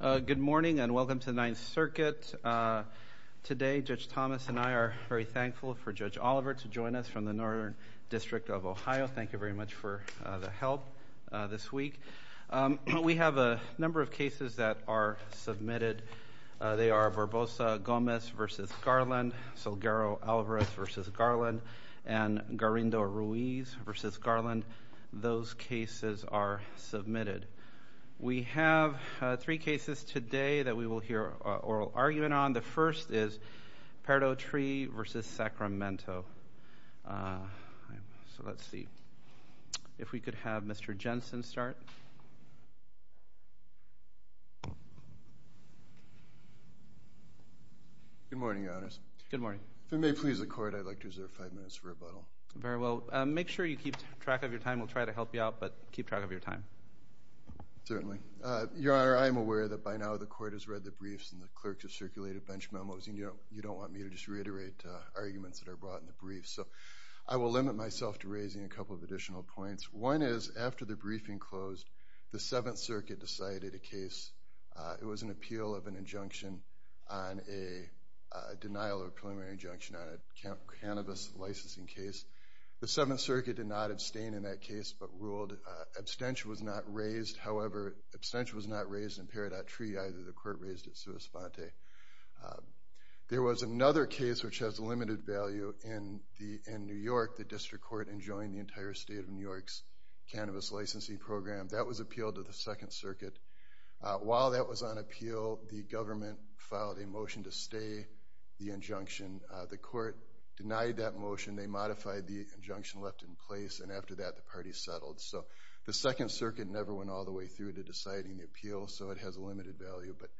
Good morning and welcome to the Ninth Circuit. Today, Judge Thomas and I are very thankful for Judge Oliver to join us from the Northern District of Ohio. Thank you very much for the help this week. We have a number of cases that are submitted. They are Barbosa-Gomez v. Garland, Salguero-Alvarez v. Garland, and Garrindo-Ruiz v. Garland. Those cases are submitted. We have three cases today that we will hear oral argument on. The first is Good morning. If it may please the Court, I would like to reserve five minutes for rebuttal. Very well. Make sure you keep track of your time. We will try to help you out, but keep track of your time. Certainly. Your Honor, I am aware that by now the Court has read the briefs and the clerks have circulated bench memos. You do not want me to just reiterate arguments that are brought in the briefs, so I will limit myself to raising a couple of additional points. One is, after the briefing closed, the Seventh Circuit decided a case. It was an appeal of an injunction on a denial of preliminary injunction on a cannabis licensing case. The Seventh Circuit did not abstain in that case, but ruled abstention was not raised. However, abstention was not raised in Peridot Treaty either. The Court raised it sua sponte. There was another case which has limited value in New York. The District Court enjoined the entire State of New York's cannabis licensing program. That was appealed to the Second Circuit. While that was on appeal, the government filed a motion to stay the injunction. The Court denied that motion. They modified the injunction left in place, and after that, the party settled. So the Second Circuit never went all the way through to deciding the appeal, so it has a limited value. But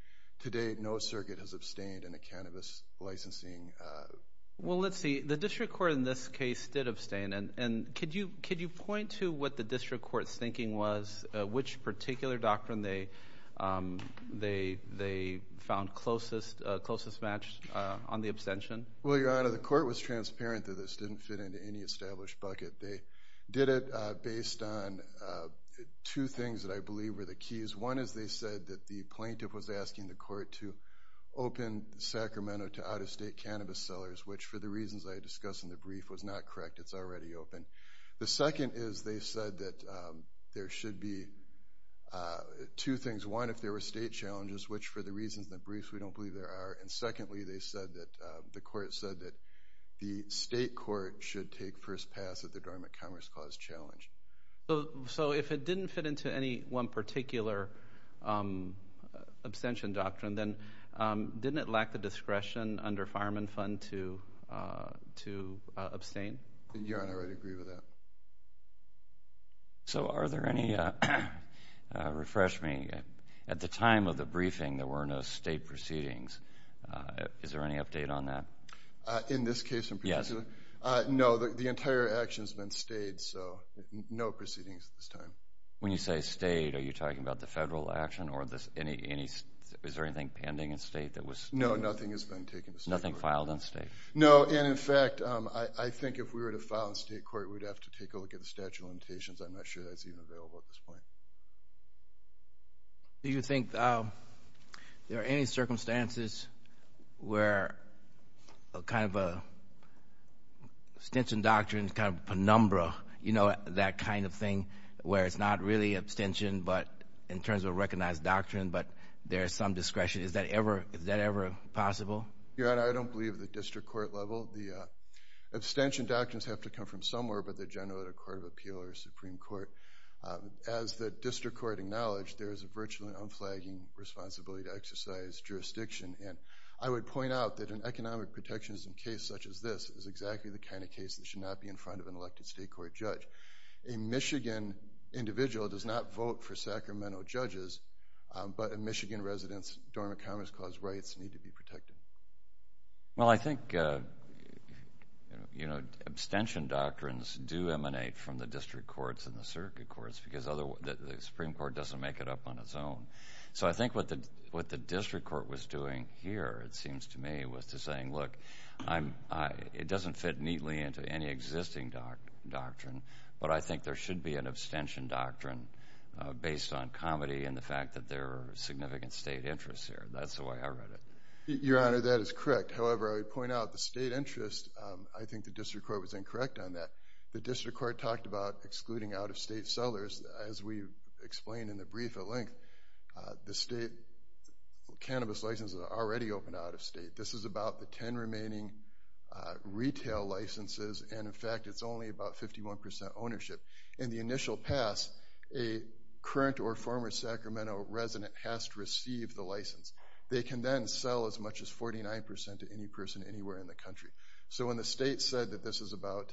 to date, no circuit has abstained in the cannabis licensing. Well, let's see. The District Court in this case did abstain, and could you point to what the District Court's thinking was, which particular doctrine they found closest matched on the abstention? Well, Your Honor, the Court was transparent that this didn't fit into any established bucket. They did it based on two things that I believe were the keys. One is they said that the plaintiff was asking the Court to open Sacramento to out-of-state cannabis sellers, which for the reasons I discussed in the brief was not correct. It's already open. The second is they said that there should be two things. One, if there were state challenges, which for the reasons in the briefs, we don't believe there are. And secondly, the Court said that the State Court should take first pass at the Dormant Commerce Clause challenge. So if it didn't fit into any one particular abstention doctrine, then didn't it lack the discretion under the Dormant Commerce Clause to abstain? Your Honor, I agree with that. So are there any, refresh me, at the time of the briefing, there were no state proceedings. Is there any update on that? In this case in particular? Yes. No, the entire action has been stayed, so no proceedings at this time. When you say stayed, are you talking about the federal action, or is there anything pending in state? No, nothing has been taken. Nothing filed in state? No, and in fact, I think if we were to file in state court, we'd have to take a look at the statute of limitations. I'm not sure that's even available at this point. Do you think there are any circumstances where a kind of an abstention doctrine is kind of a penumbra, you know, that kind of thing, where it's not really abstention, but in terms of a recognized doctrine, but there is some discretion. Is that ever, is that ever possible? Your Honor, I don't believe at the district court level. The abstention doctrines have to come from somewhere, but they're generally the Court of Appeal or Supreme Court. As the district court acknowledged, there is a virtually unflagging responsibility to exercise jurisdiction, and I would point out that an economic protectionism case such as this is exactly the kind of case that should not be in front of an elected state court judge. A Michigan individual does not vote for Sacramento judges, but a Michigan resident's Dormant Commerce Clause rights need to be protected. Well, I think, you know, abstention doctrines do emanate from the district courts and the circuit courts, because the Supreme Court doesn't make it up on its own. So I think what the district court was doing here, it seems to me, was to saying, look, it doesn't fit neatly into any existing doctrine, but I think there should be an abstention doctrine based on comedy and the fact that there are significant state interests here. That's the way I read it. Your Honor, that is correct. However, I would point out the state interest, I think the district court was incorrect on that. The district court talked about excluding out-of-state sellers. As we explained in the brief at length, the state cannabis licenses are already open out-of-state. This is about the 10 remaining retail licenses, and in fact, it's only about 51% ownership. In the initial pass, a current or former Sacramento resident has to receive the license. They can then sell as much as 49% to any person anywhere in the country. So when the state said that this is about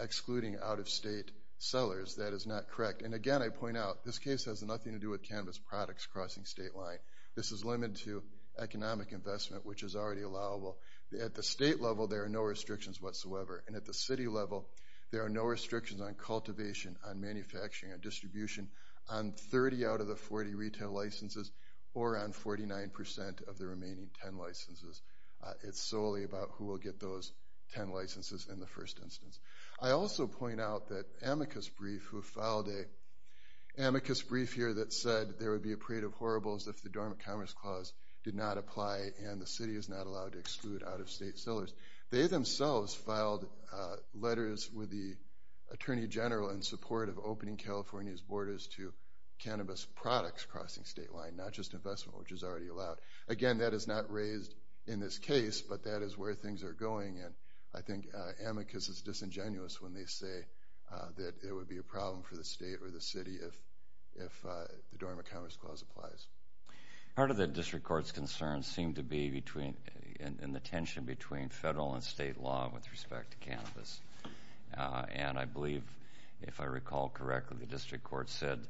excluding out-of-state sellers, that is not correct. And again, I point out, this case has nothing to do with cannabis products crossing state line. This is limited to economic investment, which is already allowable. At the state level, there are no restrictions whatsoever. And at the city level, there are no restrictions on cultivation, on manufacturing, on distribution, on 30 out of the 40 retail licenses, or on 49% of the remaining 10 licenses. It's solely about who will get those 10 licenses in the first instance. I also point out that Amicus Brief, who filed an Amicus Brief here that said there would be a period of horribles if the Dormant Commerce Clause did not apply and the city is not allowed to exclude out-of-state sellers. They themselves filed letters with the Attorney General in support of opening California's borders to cannabis products crossing state line, not just investment, which is already allowed. Again, that is not raised in this case, but that is where things are going. And I think Amicus is disingenuous when they say that it would be a problem for the state or the city if the Dormant Commerce Clause applies. Part of the District Court's concerns seem to be in the tension between federal and state law with respect to cannabis. And I believe, if I recall correctly, the District Court said,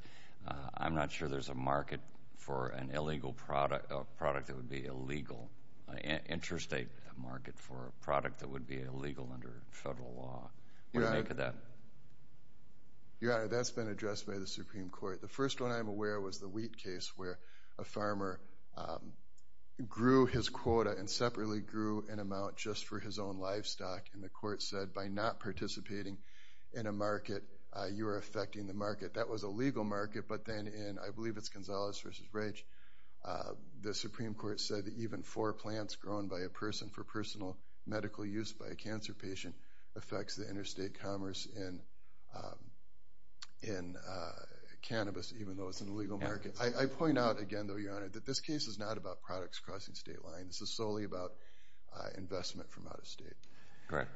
I'm not sure there's a market for an illegal product that would be illegal, an interstate market for a product that would be illegal under federal law. What do you make of that? Your Honor, that's been addressed by the Supreme Court. The first one I'm aware of was the wheat case where a farmer grew his quota and separately grew an amount just for his own livestock. And the court said, by not participating in a market, you are affecting the market. That was a legal market, but then in, I believe it's Gonzales v. Raich, the Supreme Court said that even four plants grown by a person for personal medical use by a cancer patient affects the interstate commerce. And cannabis, even though it's an illegal market. I point out again, though, Your Honor, that this case is not about products crossing state lines. This is solely about investment from out of state. Correct.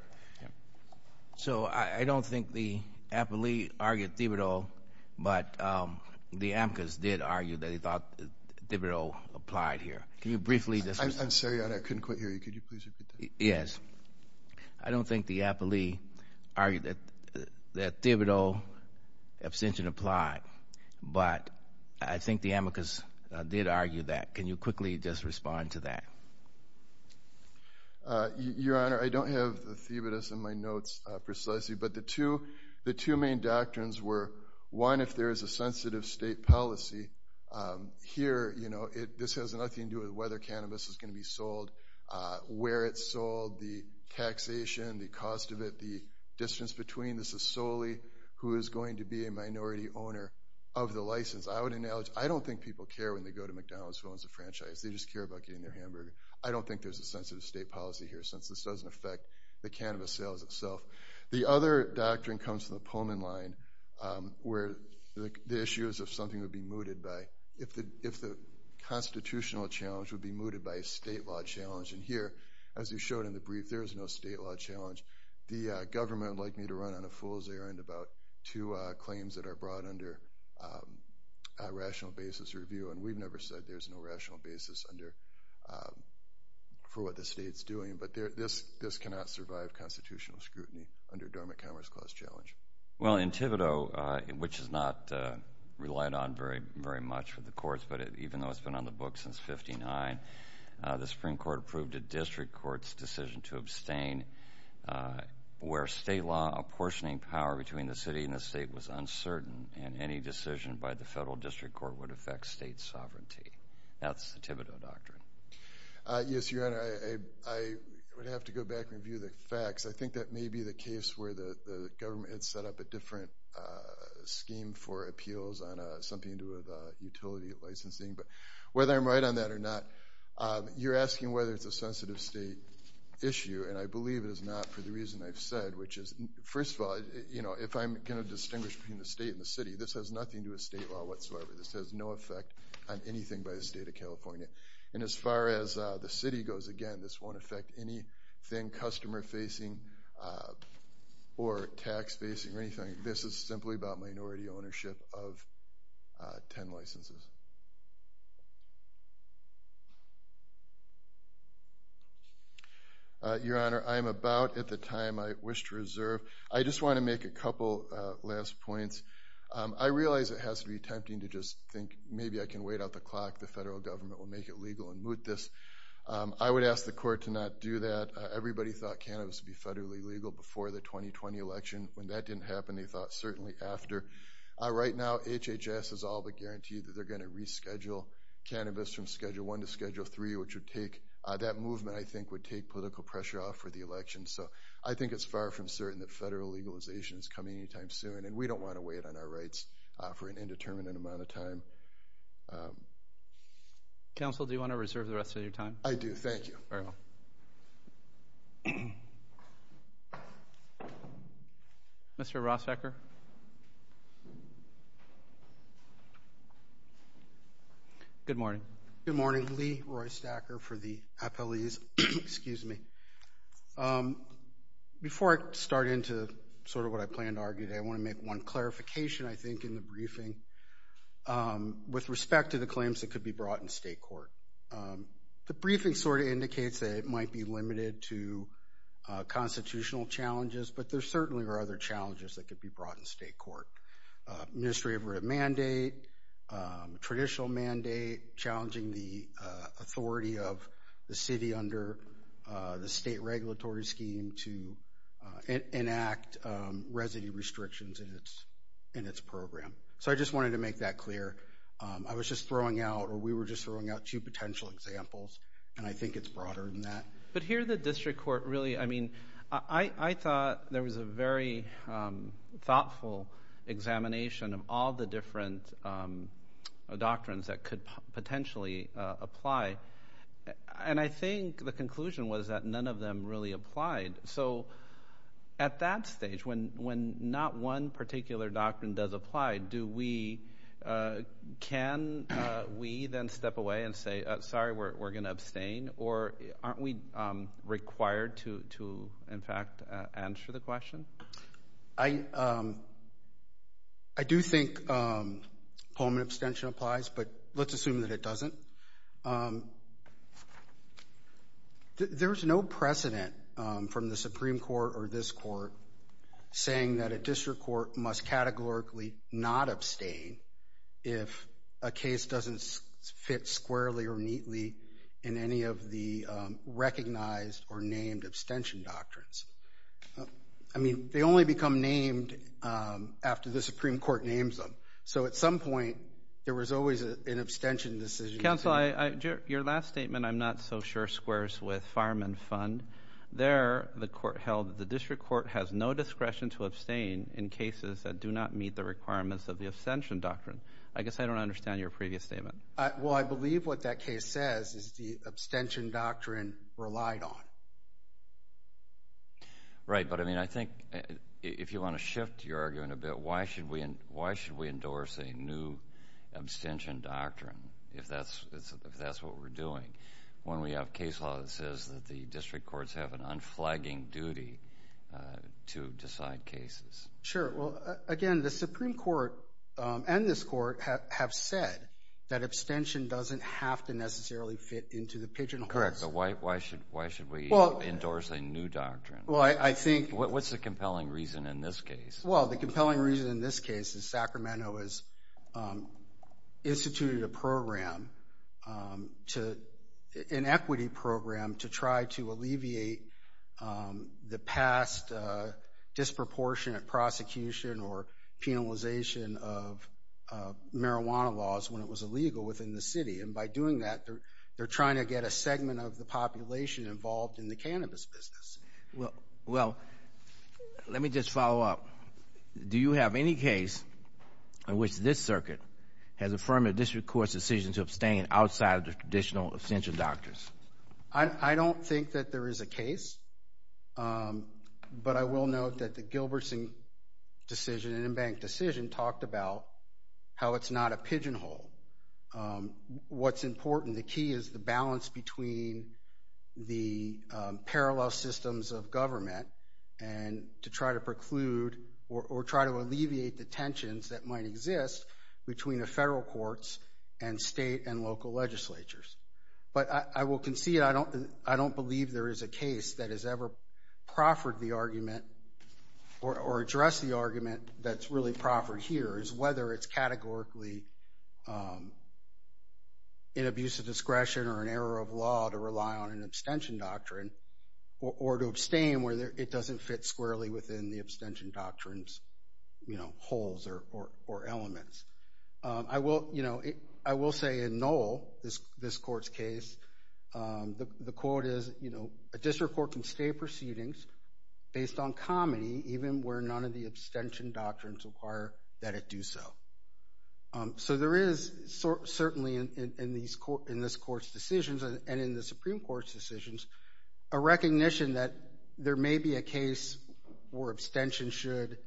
So I don't think the appellee argued Thibodeau, but the Amicus did argue that he thought Thibodeau applied here. Can you briefly discuss that? I'm sorry, Your Honor, I couldn't quite hear you. Could you please repeat that? Yes. I don't think the appellee argued that Thibodeau abstention applied, but I think the Amicus did argue that. Can you quickly just respond to that? Your Honor, I don't have the Thibodeau in my notes precisely, but the two main doctrines were, one, if there is a sensitive state policy, here, you know, this has nothing to do with whether cannabis is going to be sold, where it's sold, the taxation, the cost of it, the distance between. This is solely who is going to be a minority owner of the license. I would acknowledge, I don't think people care when they go to McDonald's, as long as it's a franchise. They just care about getting their hamburger. I don't think there's a sensitive state policy here, since this doesn't affect the cannabis sales itself. The other doctrine comes from the Pullman line, where the issue is if something would be mooted by, if the constitutional challenge would be mooted by a state law challenge, and here, as you showed in the brief, there is no state law challenge. The government would like me to run on a fool's errand about two claims that are brought under a rational basis review, and we've never said there's no rational basis for what the state's doing, but this cannot survive constitutional scrutiny under a Dogmatic Commerce Clause challenge. Well, in Thibodeau, which is not relied on very much with the courts, but even though it's been on the books since 59, the Supreme Court approved a district court's decision to abstain, where state law apportioning power between the city and the state was uncertain, and any decision by the federal district court would affect state sovereignty. That's the Thibodeau doctrine. Yes, Your Honor, I would have to go back and review the facts. I think that may be the case where the government had set up a different scheme for appeals on something to do with utility licensing, but whether I'm right on that or not, you're asking whether it's a sensitive state issue, and I believe it is not for the reason I've said, which is, first of all, if I'm going to distinguish between the state and the city, this has nothing to do with state law whatsoever. This has no effect on anything by the state of California, and as far as the city goes, again, this won't affect anything customer-facing or tax-facing or anything. This is simply about minority ownership of 10 licenses. Your Honor, I'm about at the time I wish to reserve. I just want to make a couple last points. I realize it has to be tempting to just think, maybe I can wait out the clock, the federal government will make it legal and moot this. I would ask the court to not do that. Everybody thought cannabis would be federally legal before the 2020 election. When that didn't happen, they thought certainly after. Right now, HHS has all but guaranteed that they're going to reschedule cannabis from Schedule 1 to Schedule 3, which would take—that movement, I think, would take political pressure off for the election, so I think it's far from certain that federal legalization is coming anytime soon, and we don't want to wait on our rights for an indeterminate amount of time. Counsel, do you want to reserve the rest of your time? I do. Thank you. Very well. Thank you. Mr. Rosacker? Good morning. Good morning. Lee Roystacker for the appellees. Excuse me. Before I start into sort of what I planned to argue today, I want to make one clarification, I think, in the briefing with respect to the claims that could be brought in state court. The briefing sort of indicates that it might be limited to constitutional challenges, but there certainly are other challenges that could be brought in state court. Administrative mandate, traditional mandate, challenging the authority of the city under the state regulatory scheme to enact residency restrictions in its program. So I just wanted to make that clear. I was just throwing out, or we were just throwing out two potential examples, and I think it's broader than that. But here the district court really—I mean, I thought there was a very thoughtful examination of all the different doctrines that could potentially apply, and I think the conclusion was that none of them really applied. So at that stage, when not one particular doctrine does apply, do we—can we then step away and say, sorry, we're going to abstain, or aren't we required to, in fact, answer the question? I do think home and abstention applies, but let's assume that it doesn't. There's no precedent from the Supreme Court or this court saying that a district court must categorically not abstain if a case doesn't fit squarely or neatly in any of the recognized or named abstention doctrines. I mean, they only become named after the Supreme Court names them. So at some point, there was always an abstention decision. Counsel, your last statement I'm not so sure squares with Fireman Fund. There, the court held that the district court has no discretion to abstain in cases that do not meet the requirements of the abstention doctrine. I guess I don't understand your previous statement. Well, I believe what that case says is the abstention doctrine relied on. Right. But, I mean, I think if you want to shift your argument a bit, why should we endorse a new abstention doctrine if that's what we're doing when we have case law that says that the district courts have an unflagging duty to decide cases? Sure. Well, again, the Supreme Court and this court have said that abstention doesn't have to necessarily fit into the pigeonholes. Correct. So why should we endorse a new doctrine? Well, I think… What's the compelling reason in this case? Well, the compelling reason in this case is Sacramento has instituted a program, an equity program, to try to alleviate the past disproportionate prosecution or penalization of marijuana laws when it was illegal within the city. And by doing that, they're trying to get a segment of the population involved in the cannabis business. Well, let me just follow up. Do you have any case in which this circuit has affirmed a district court's decision to abstain outside of the traditional abstention doctrines? I don't think that there is a case. But I will note that the Gilbertson decision and Embank decision talked about how it's not a pigeonhole. What's important, the key is the balance between the parallel systems of government and to try to preclude or try to alleviate the tensions that might exist between the federal courts and state and local legislatures. But I will concede I don't believe there is a case that has ever proffered the argument or addressed the argument that's really proffered here, is whether it's categorically an abuse of discretion or an error of law to rely on an abstention doctrine or to abstain where it doesn't fit squarely within the abstention doctrine's holes or elements. I will say in Noel, this court's case, the quote is, a district court can stay proceedings based on comity even where none of the abstention doctrines require that it do so. So there is certainly in this court's decisions and in the Supreme Court's decisions a recognition that there may be a case where abstention should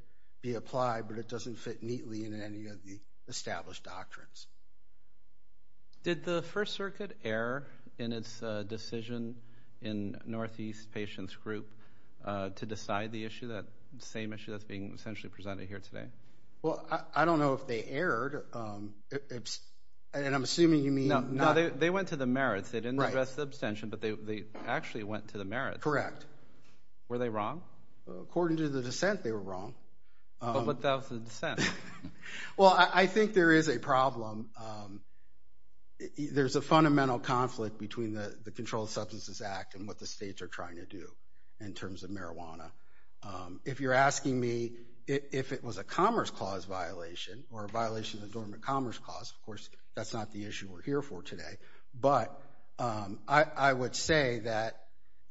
be applied, but it doesn't fit neatly in any of the established doctrines. Did the First Circuit err in its decision in Northeast Patients Group to decide the issue, that same issue that's being essentially presented here today? Well, I don't know if they erred, and I'm assuming you mean... No, they went to the merits. They didn't address the abstention, but they actually went to the merits. Correct. Were they wrong? According to the dissent, they were wrong. But what about the dissent? Well, I think there is a problem. There's a fundamental conflict between the Controlled Substances Act and what the states are trying to do in terms of marijuana. If you're asking me if it was a Commerce Clause violation or a violation of the Dormant Commerce Clause, of course, that's not the issue we're here for today. But I would say that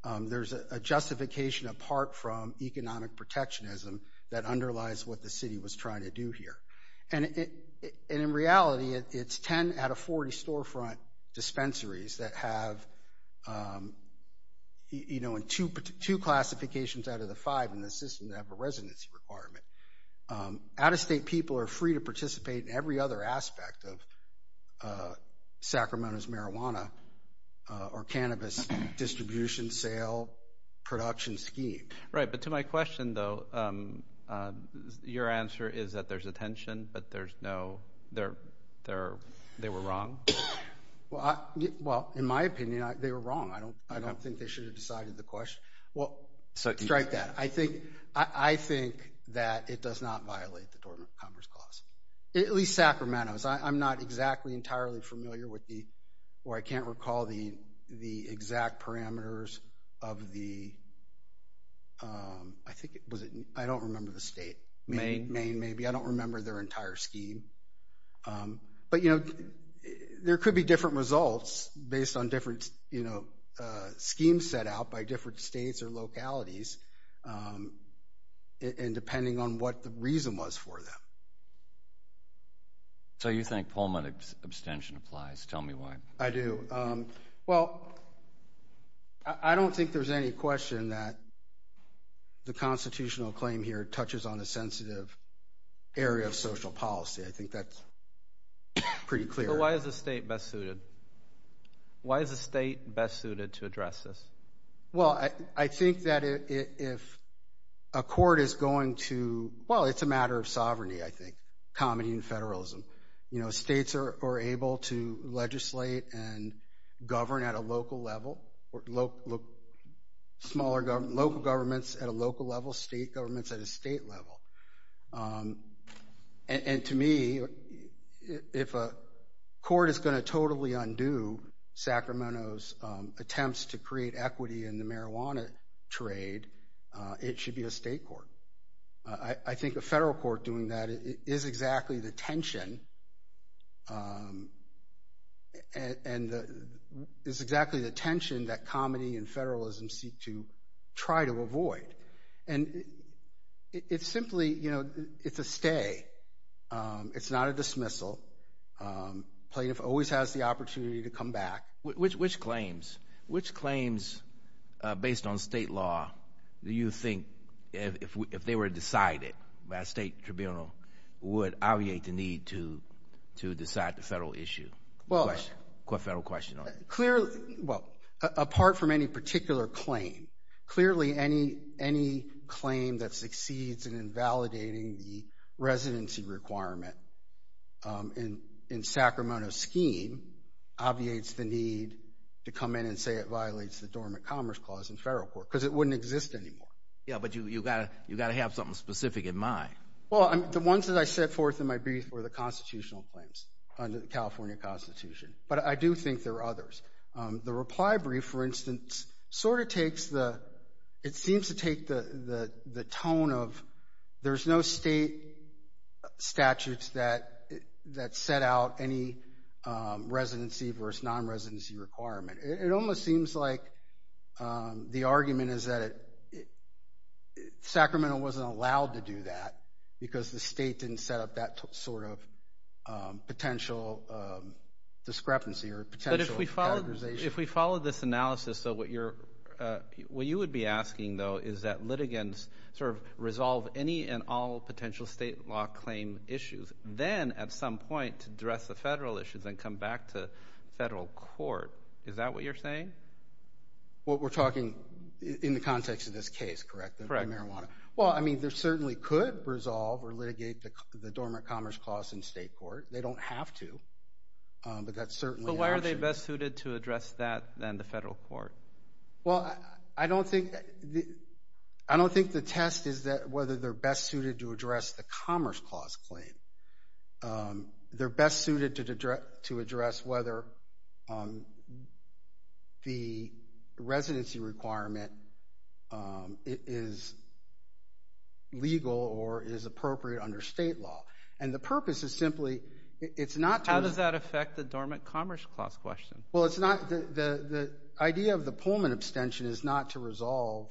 there's a justification apart from economic protectionism that underlies what the city was trying to do here. And in reality, it's 10 out of 40 storefront dispensaries that have two classifications out of the five in the system that have a residency requirement. Out-of-state people are free to participate in every other aspect of Sacramento's marijuana or cannabis distribution, sale, production scheme. Right. But to my question, though, your answer is that there's a tension, but they were wrong? Well, in my opinion, they were wrong. I don't think they should have decided the question. Well, strike that. I think that it does not violate the Dormant Commerce Clause, at least Sacramento's. I'm not exactly entirely familiar with the—or I can't recall the exact parameters of the—I think it was—I don't remember the state. Maine? Maine, maybe. I don't remember their entire scheme. But, you know, there could be different results based on different schemes set out by different states or localities and depending on what the reason was for them. So you think Pullman abstention applies. Tell me why. I do. Well, I don't think there's any question that the constitutional claim here touches on a sensitive area of social policy. I think that's pretty clear. So why is the state best suited? Why is the state best suited to address this? Well, I think that if a court is going to—well, it's a matter of sovereignty, I think, comedy and federalism. You know, states are able to legislate and govern at a local level, local governments at a local level, state governments at a state level. And to me, if a court is going to totally undo Sacramento's attempts to create equity in the marijuana trade, it should be a state court. I think a federal court doing that is exactly the tension and is exactly the tension that comedy and federalism seek to try to avoid. And it's simply, you know, it's a stay. It's not a dismissal. Plaintiff always has the opportunity to come back. Which claims based on state law do you think, if they were decided by a state tribunal, would obviate the need to decide the federal issue? What federal question? Well, apart from any particular claim, clearly any claim that succeeds in invalidating the residency requirement in Sacramento's scheme obviates the need to come in and say it violates the Dormant Commerce Clause in federal court, because it wouldn't exist anymore. Yeah, but you've got to have something specific in mind. Well, the ones that I set forth in my brief were the constitutional claims under the California Constitution. But I do think there are others. The reply brief, for instance, sort of takes the, it seems to take the tone of there's no state statutes that set out any residency versus non-residency requirement. It almost seems like the argument is that Sacramento wasn't allowed to do that, because the state didn't set up that sort of potential discrepancy or potential categorization. But if we follow this analysis, what you would be asking, though, is that litigants sort of resolve any and all potential state law claim issues, then at some point address the federal issues and come back to federal court. Is that what you're saying? Well, we're talking in the context of this case, correct? Correct. Well, I mean, they certainly could resolve or litigate the Dormant Commerce Clause in state court. They don't have to, but that's certainly an option. But why are they best suited to address that than the federal court? Well, I don't think the test is whether they're best suited to address the Commerce Clause claim. They're best suited to address whether the residency requirement is legal or is appropriate under state law. And the purpose is simply it's not to— How does that affect the Dormant Commerce Clause question? Well, it's not—the idea of the Pullman abstention is not to resolve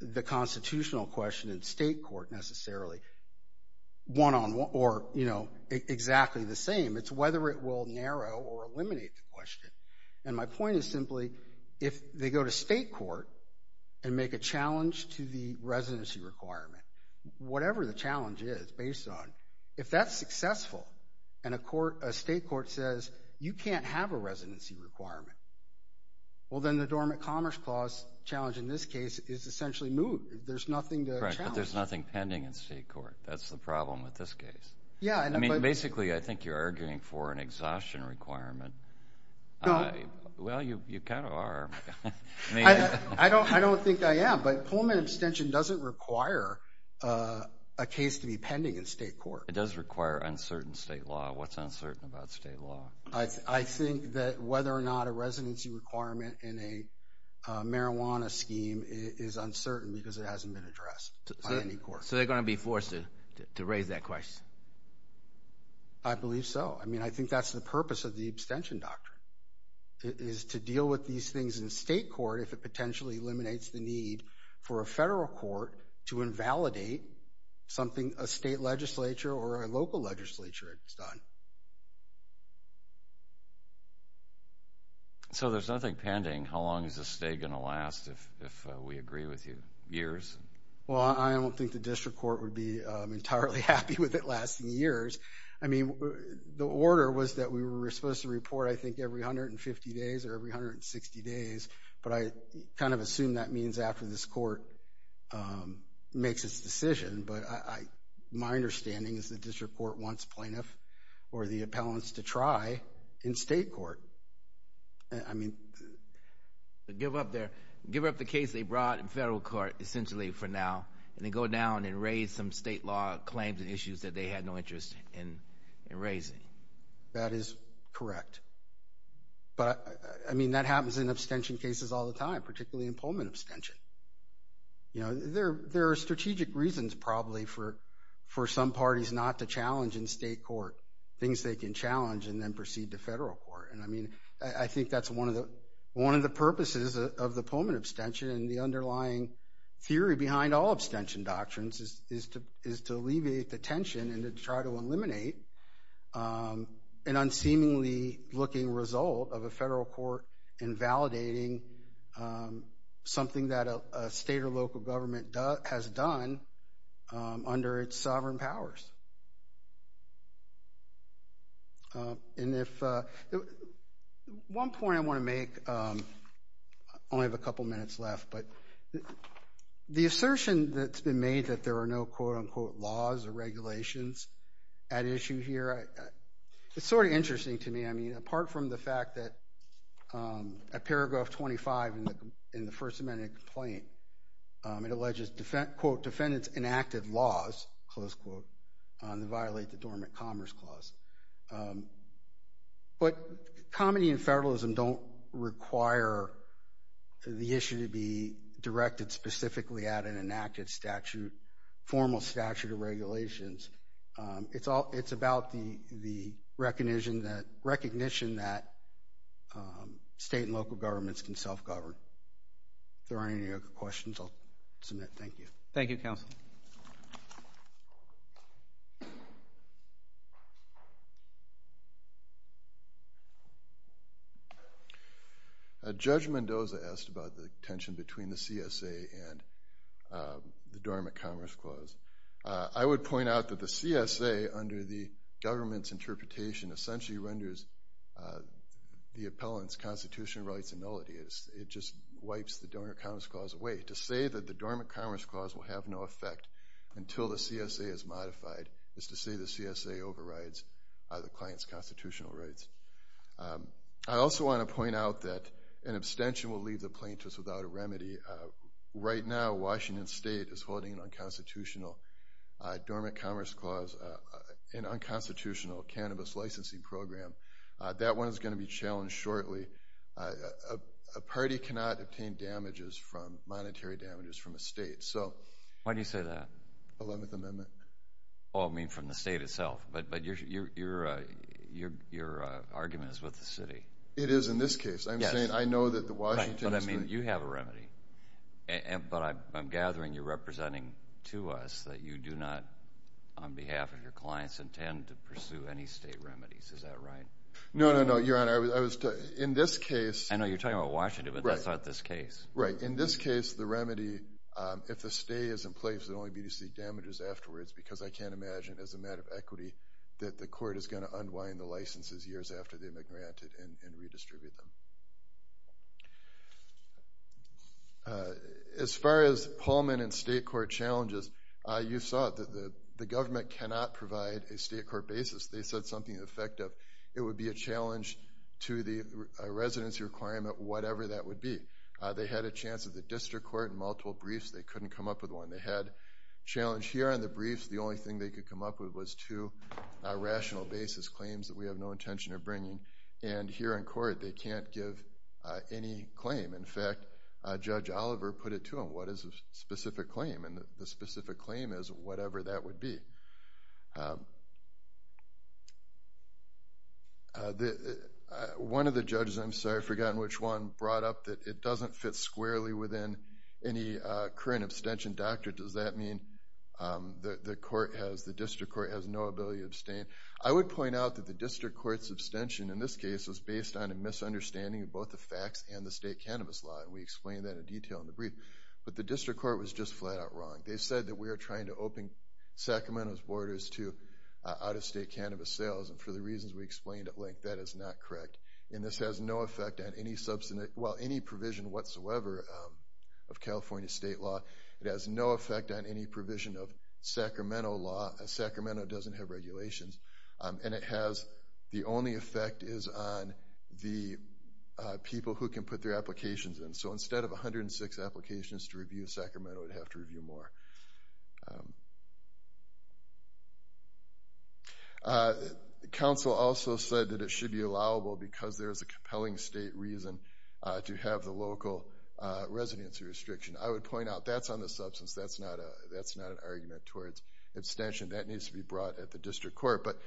the constitutional question in state court necessarily, one-on-one, or, you know, exactly the same. It's whether it will narrow or eliminate the question. And my point is simply if they go to state court and make a challenge to the residency requirement, whatever the challenge is based on, if that's successful and a state court says, you can't have a residency requirement, well, then the Dormant Commerce Clause challenge in this case is essentially moved. There's nothing to challenge. Right, but there's nothing pending in state court. That's the problem with this case. Yeah, but— I mean, basically, I think you're arguing for an exhaustion requirement. No. Well, you kind of are. I don't think I am, but Pullman abstention doesn't require a case to be pending in state court. It does require uncertain state law. What's uncertain about state law? I think that whether or not a residency requirement in a marijuana scheme is uncertain because it hasn't been addressed by any court. So they're going to be forced to raise that question? I believe so. I mean, I think that's the purpose of the abstention doctrine is to deal with these things in state court if it potentially eliminates the need for a federal court to invalidate something a state legislature or a local legislature has done. So there's nothing pending. How long is the stay going to last if we agree with you? Years? Well, I don't think the district court would be entirely happy with it lasting years. I mean, the order was that we were supposed to report, I think, every 150 days or every 160 days, but I kind of assume that means after this court makes its decision. But my understanding is the district court wants plaintiffs or the appellants to try in state court. I mean— Give up the case they brought in federal court, essentially, for now, and then go down and raise some state law claims and issues that they had no interest in raising. That is correct. But, I mean, that happens in abstention cases all the time, particularly in Pullman abstention. You know, there are strategic reasons probably for some parties not to challenge in state court things they can challenge and then proceed to federal court. And, I mean, I think that's one of the purposes of the Pullman abstention, and the underlying theory behind all abstention doctrines is to alleviate the tension and to try to eliminate an unseemly-looking result of a federal court invalidating something that a state or local government has done under its sovereign powers. And if—one point I want to make, I only have a couple minutes left, but the assertion that's been made that there are no quote-unquote laws or regulations at issue here, it's sort of interesting to me. I mean, apart from the fact that at paragraph 25 in the First Amendment complaint, it alleges, quote, defendants enacted laws, close quote, that violate the Dormant Commerce Clause. But comedy and federalism don't require the issue to be directed specifically at an enacted statute, formal statute of regulations. It's about the recognition that state and local governments can self-govern. If there aren't any other questions, I'll submit. Thank you. Thank you, Counsel. Judge Mendoza asked about the tension between the CSA and the Dormant Commerce Clause. I would point out that the CSA, under the government's interpretation, essentially renders the appellant's constitutional rights a nullity. It just wipes the Dormant Commerce Clause away. To say that the Dormant Commerce Clause will have no effect until the CSA is modified is to say the CSA overrides the client's constitutional rights. I also want to point out that an abstention will leave the plaintiffs without a remedy. Right now, Washington State is holding an unconstitutional Dormant Commerce Clause, an unconstitutional cannabis licensing program. That one is going to be challenged shortly. A party cannot obtain monetary damages from a state. Why do you say that? Eleventh Amendment. Oh, I mean from the state itself, but your argument is with the city. It is in this case. I'm saying I know that the Washington State… Right, but I mean you have a remedy, but I'm gathering you're representing to us that you do not, on behalf of your clients, Is that right? No, no, no, Your Honor. In this case… I know you're talking about Washington, but that's not this case. Right, in this case, the remedy, if the stay is in place, it will only be to seek damages afterwards, because I can't imagine, as a matter of equity, that the court is going to unwind the licenses years after they've been granted and redistribute them. As far as Pullman and state court challenges, you saw that the government cannot provide a state court basis. They said something effective. It would be a challenge to the residency requirement, whatever that would be. They had a chance at the district court in multiple briefs. They couldn't come up with one. They had a challenge here on the briefs. The only thing they could come up with was two rational basis claims that we have no intention of bringing. And here in court, they can't give any claim. In fact, Judge Oliver put it to them, what is a specific claim? And the specific claim is whatever that would be. One of the judges, I'm sorry, I've forgotten which one, brought up that it doesn't fit squarely within any current abstention doctrine. Does that mean the district court has no ability to abstain? I would point out that the district court's abstention in this case was based on a misunderstanding of both the facts and the state cannabis law, and we explained that in detail in the brief. But the district court was just flat-out wrong. They said that we are trying to open Sacramento's borders to out-of-state cannabis sales, and for the reasons we explained at length, that is not correct. And this has no effect on any provision whatsoever of California state law. It has no effect on any provision of Sacramento law. Sacramento doesn't have regulations. And the only effect is on the people who can put their applications in. So instead of 106 applications to review, Sacramento would have to review more. The council also said that it should be allowable because there is a compelling state reason to have the local residency restriction. I would point out that's on the substance. That's not an argument towards abstention. That needs to be brought at the district court. But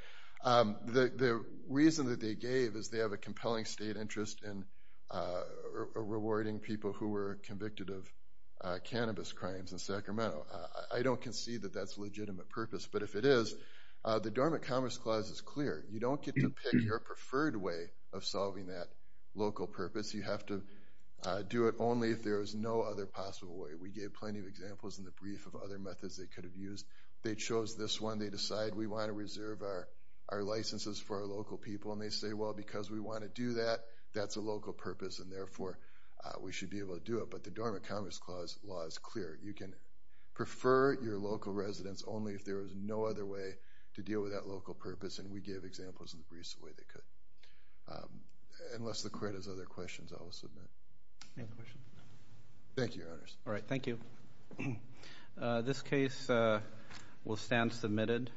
the reason that they gave is they have a compelling state interest in rewarding people who were convicted of cannabis crimes in Sacramento. I don't concede that that's a legitimate purpose, but if it is, the Dormant Commerce Clause is clear. You don't get to pick your preferred way of solving that local purpose. You have to do it only if there is no other possible way. We gave plenty of examples in the brief of other methods they could have used. They chose this one. They decide we want to reserve our licenses for our local people, and they say, well, because we want to do that, that's a local purpose, and therefore we should be able to do it. But the Dormant Commerce Clause law is clear. You can prefer your local residence only if there is no other way to deal with that local purpose, and we gave examples in the briefs the way they could. Unless the court has other questions, I will submit. Any questions? Thank you, Your Honors. All right. Thank you. This case will stand submitted.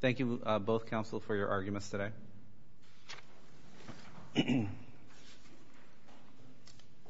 Thank you, both counsel, for your arguments today.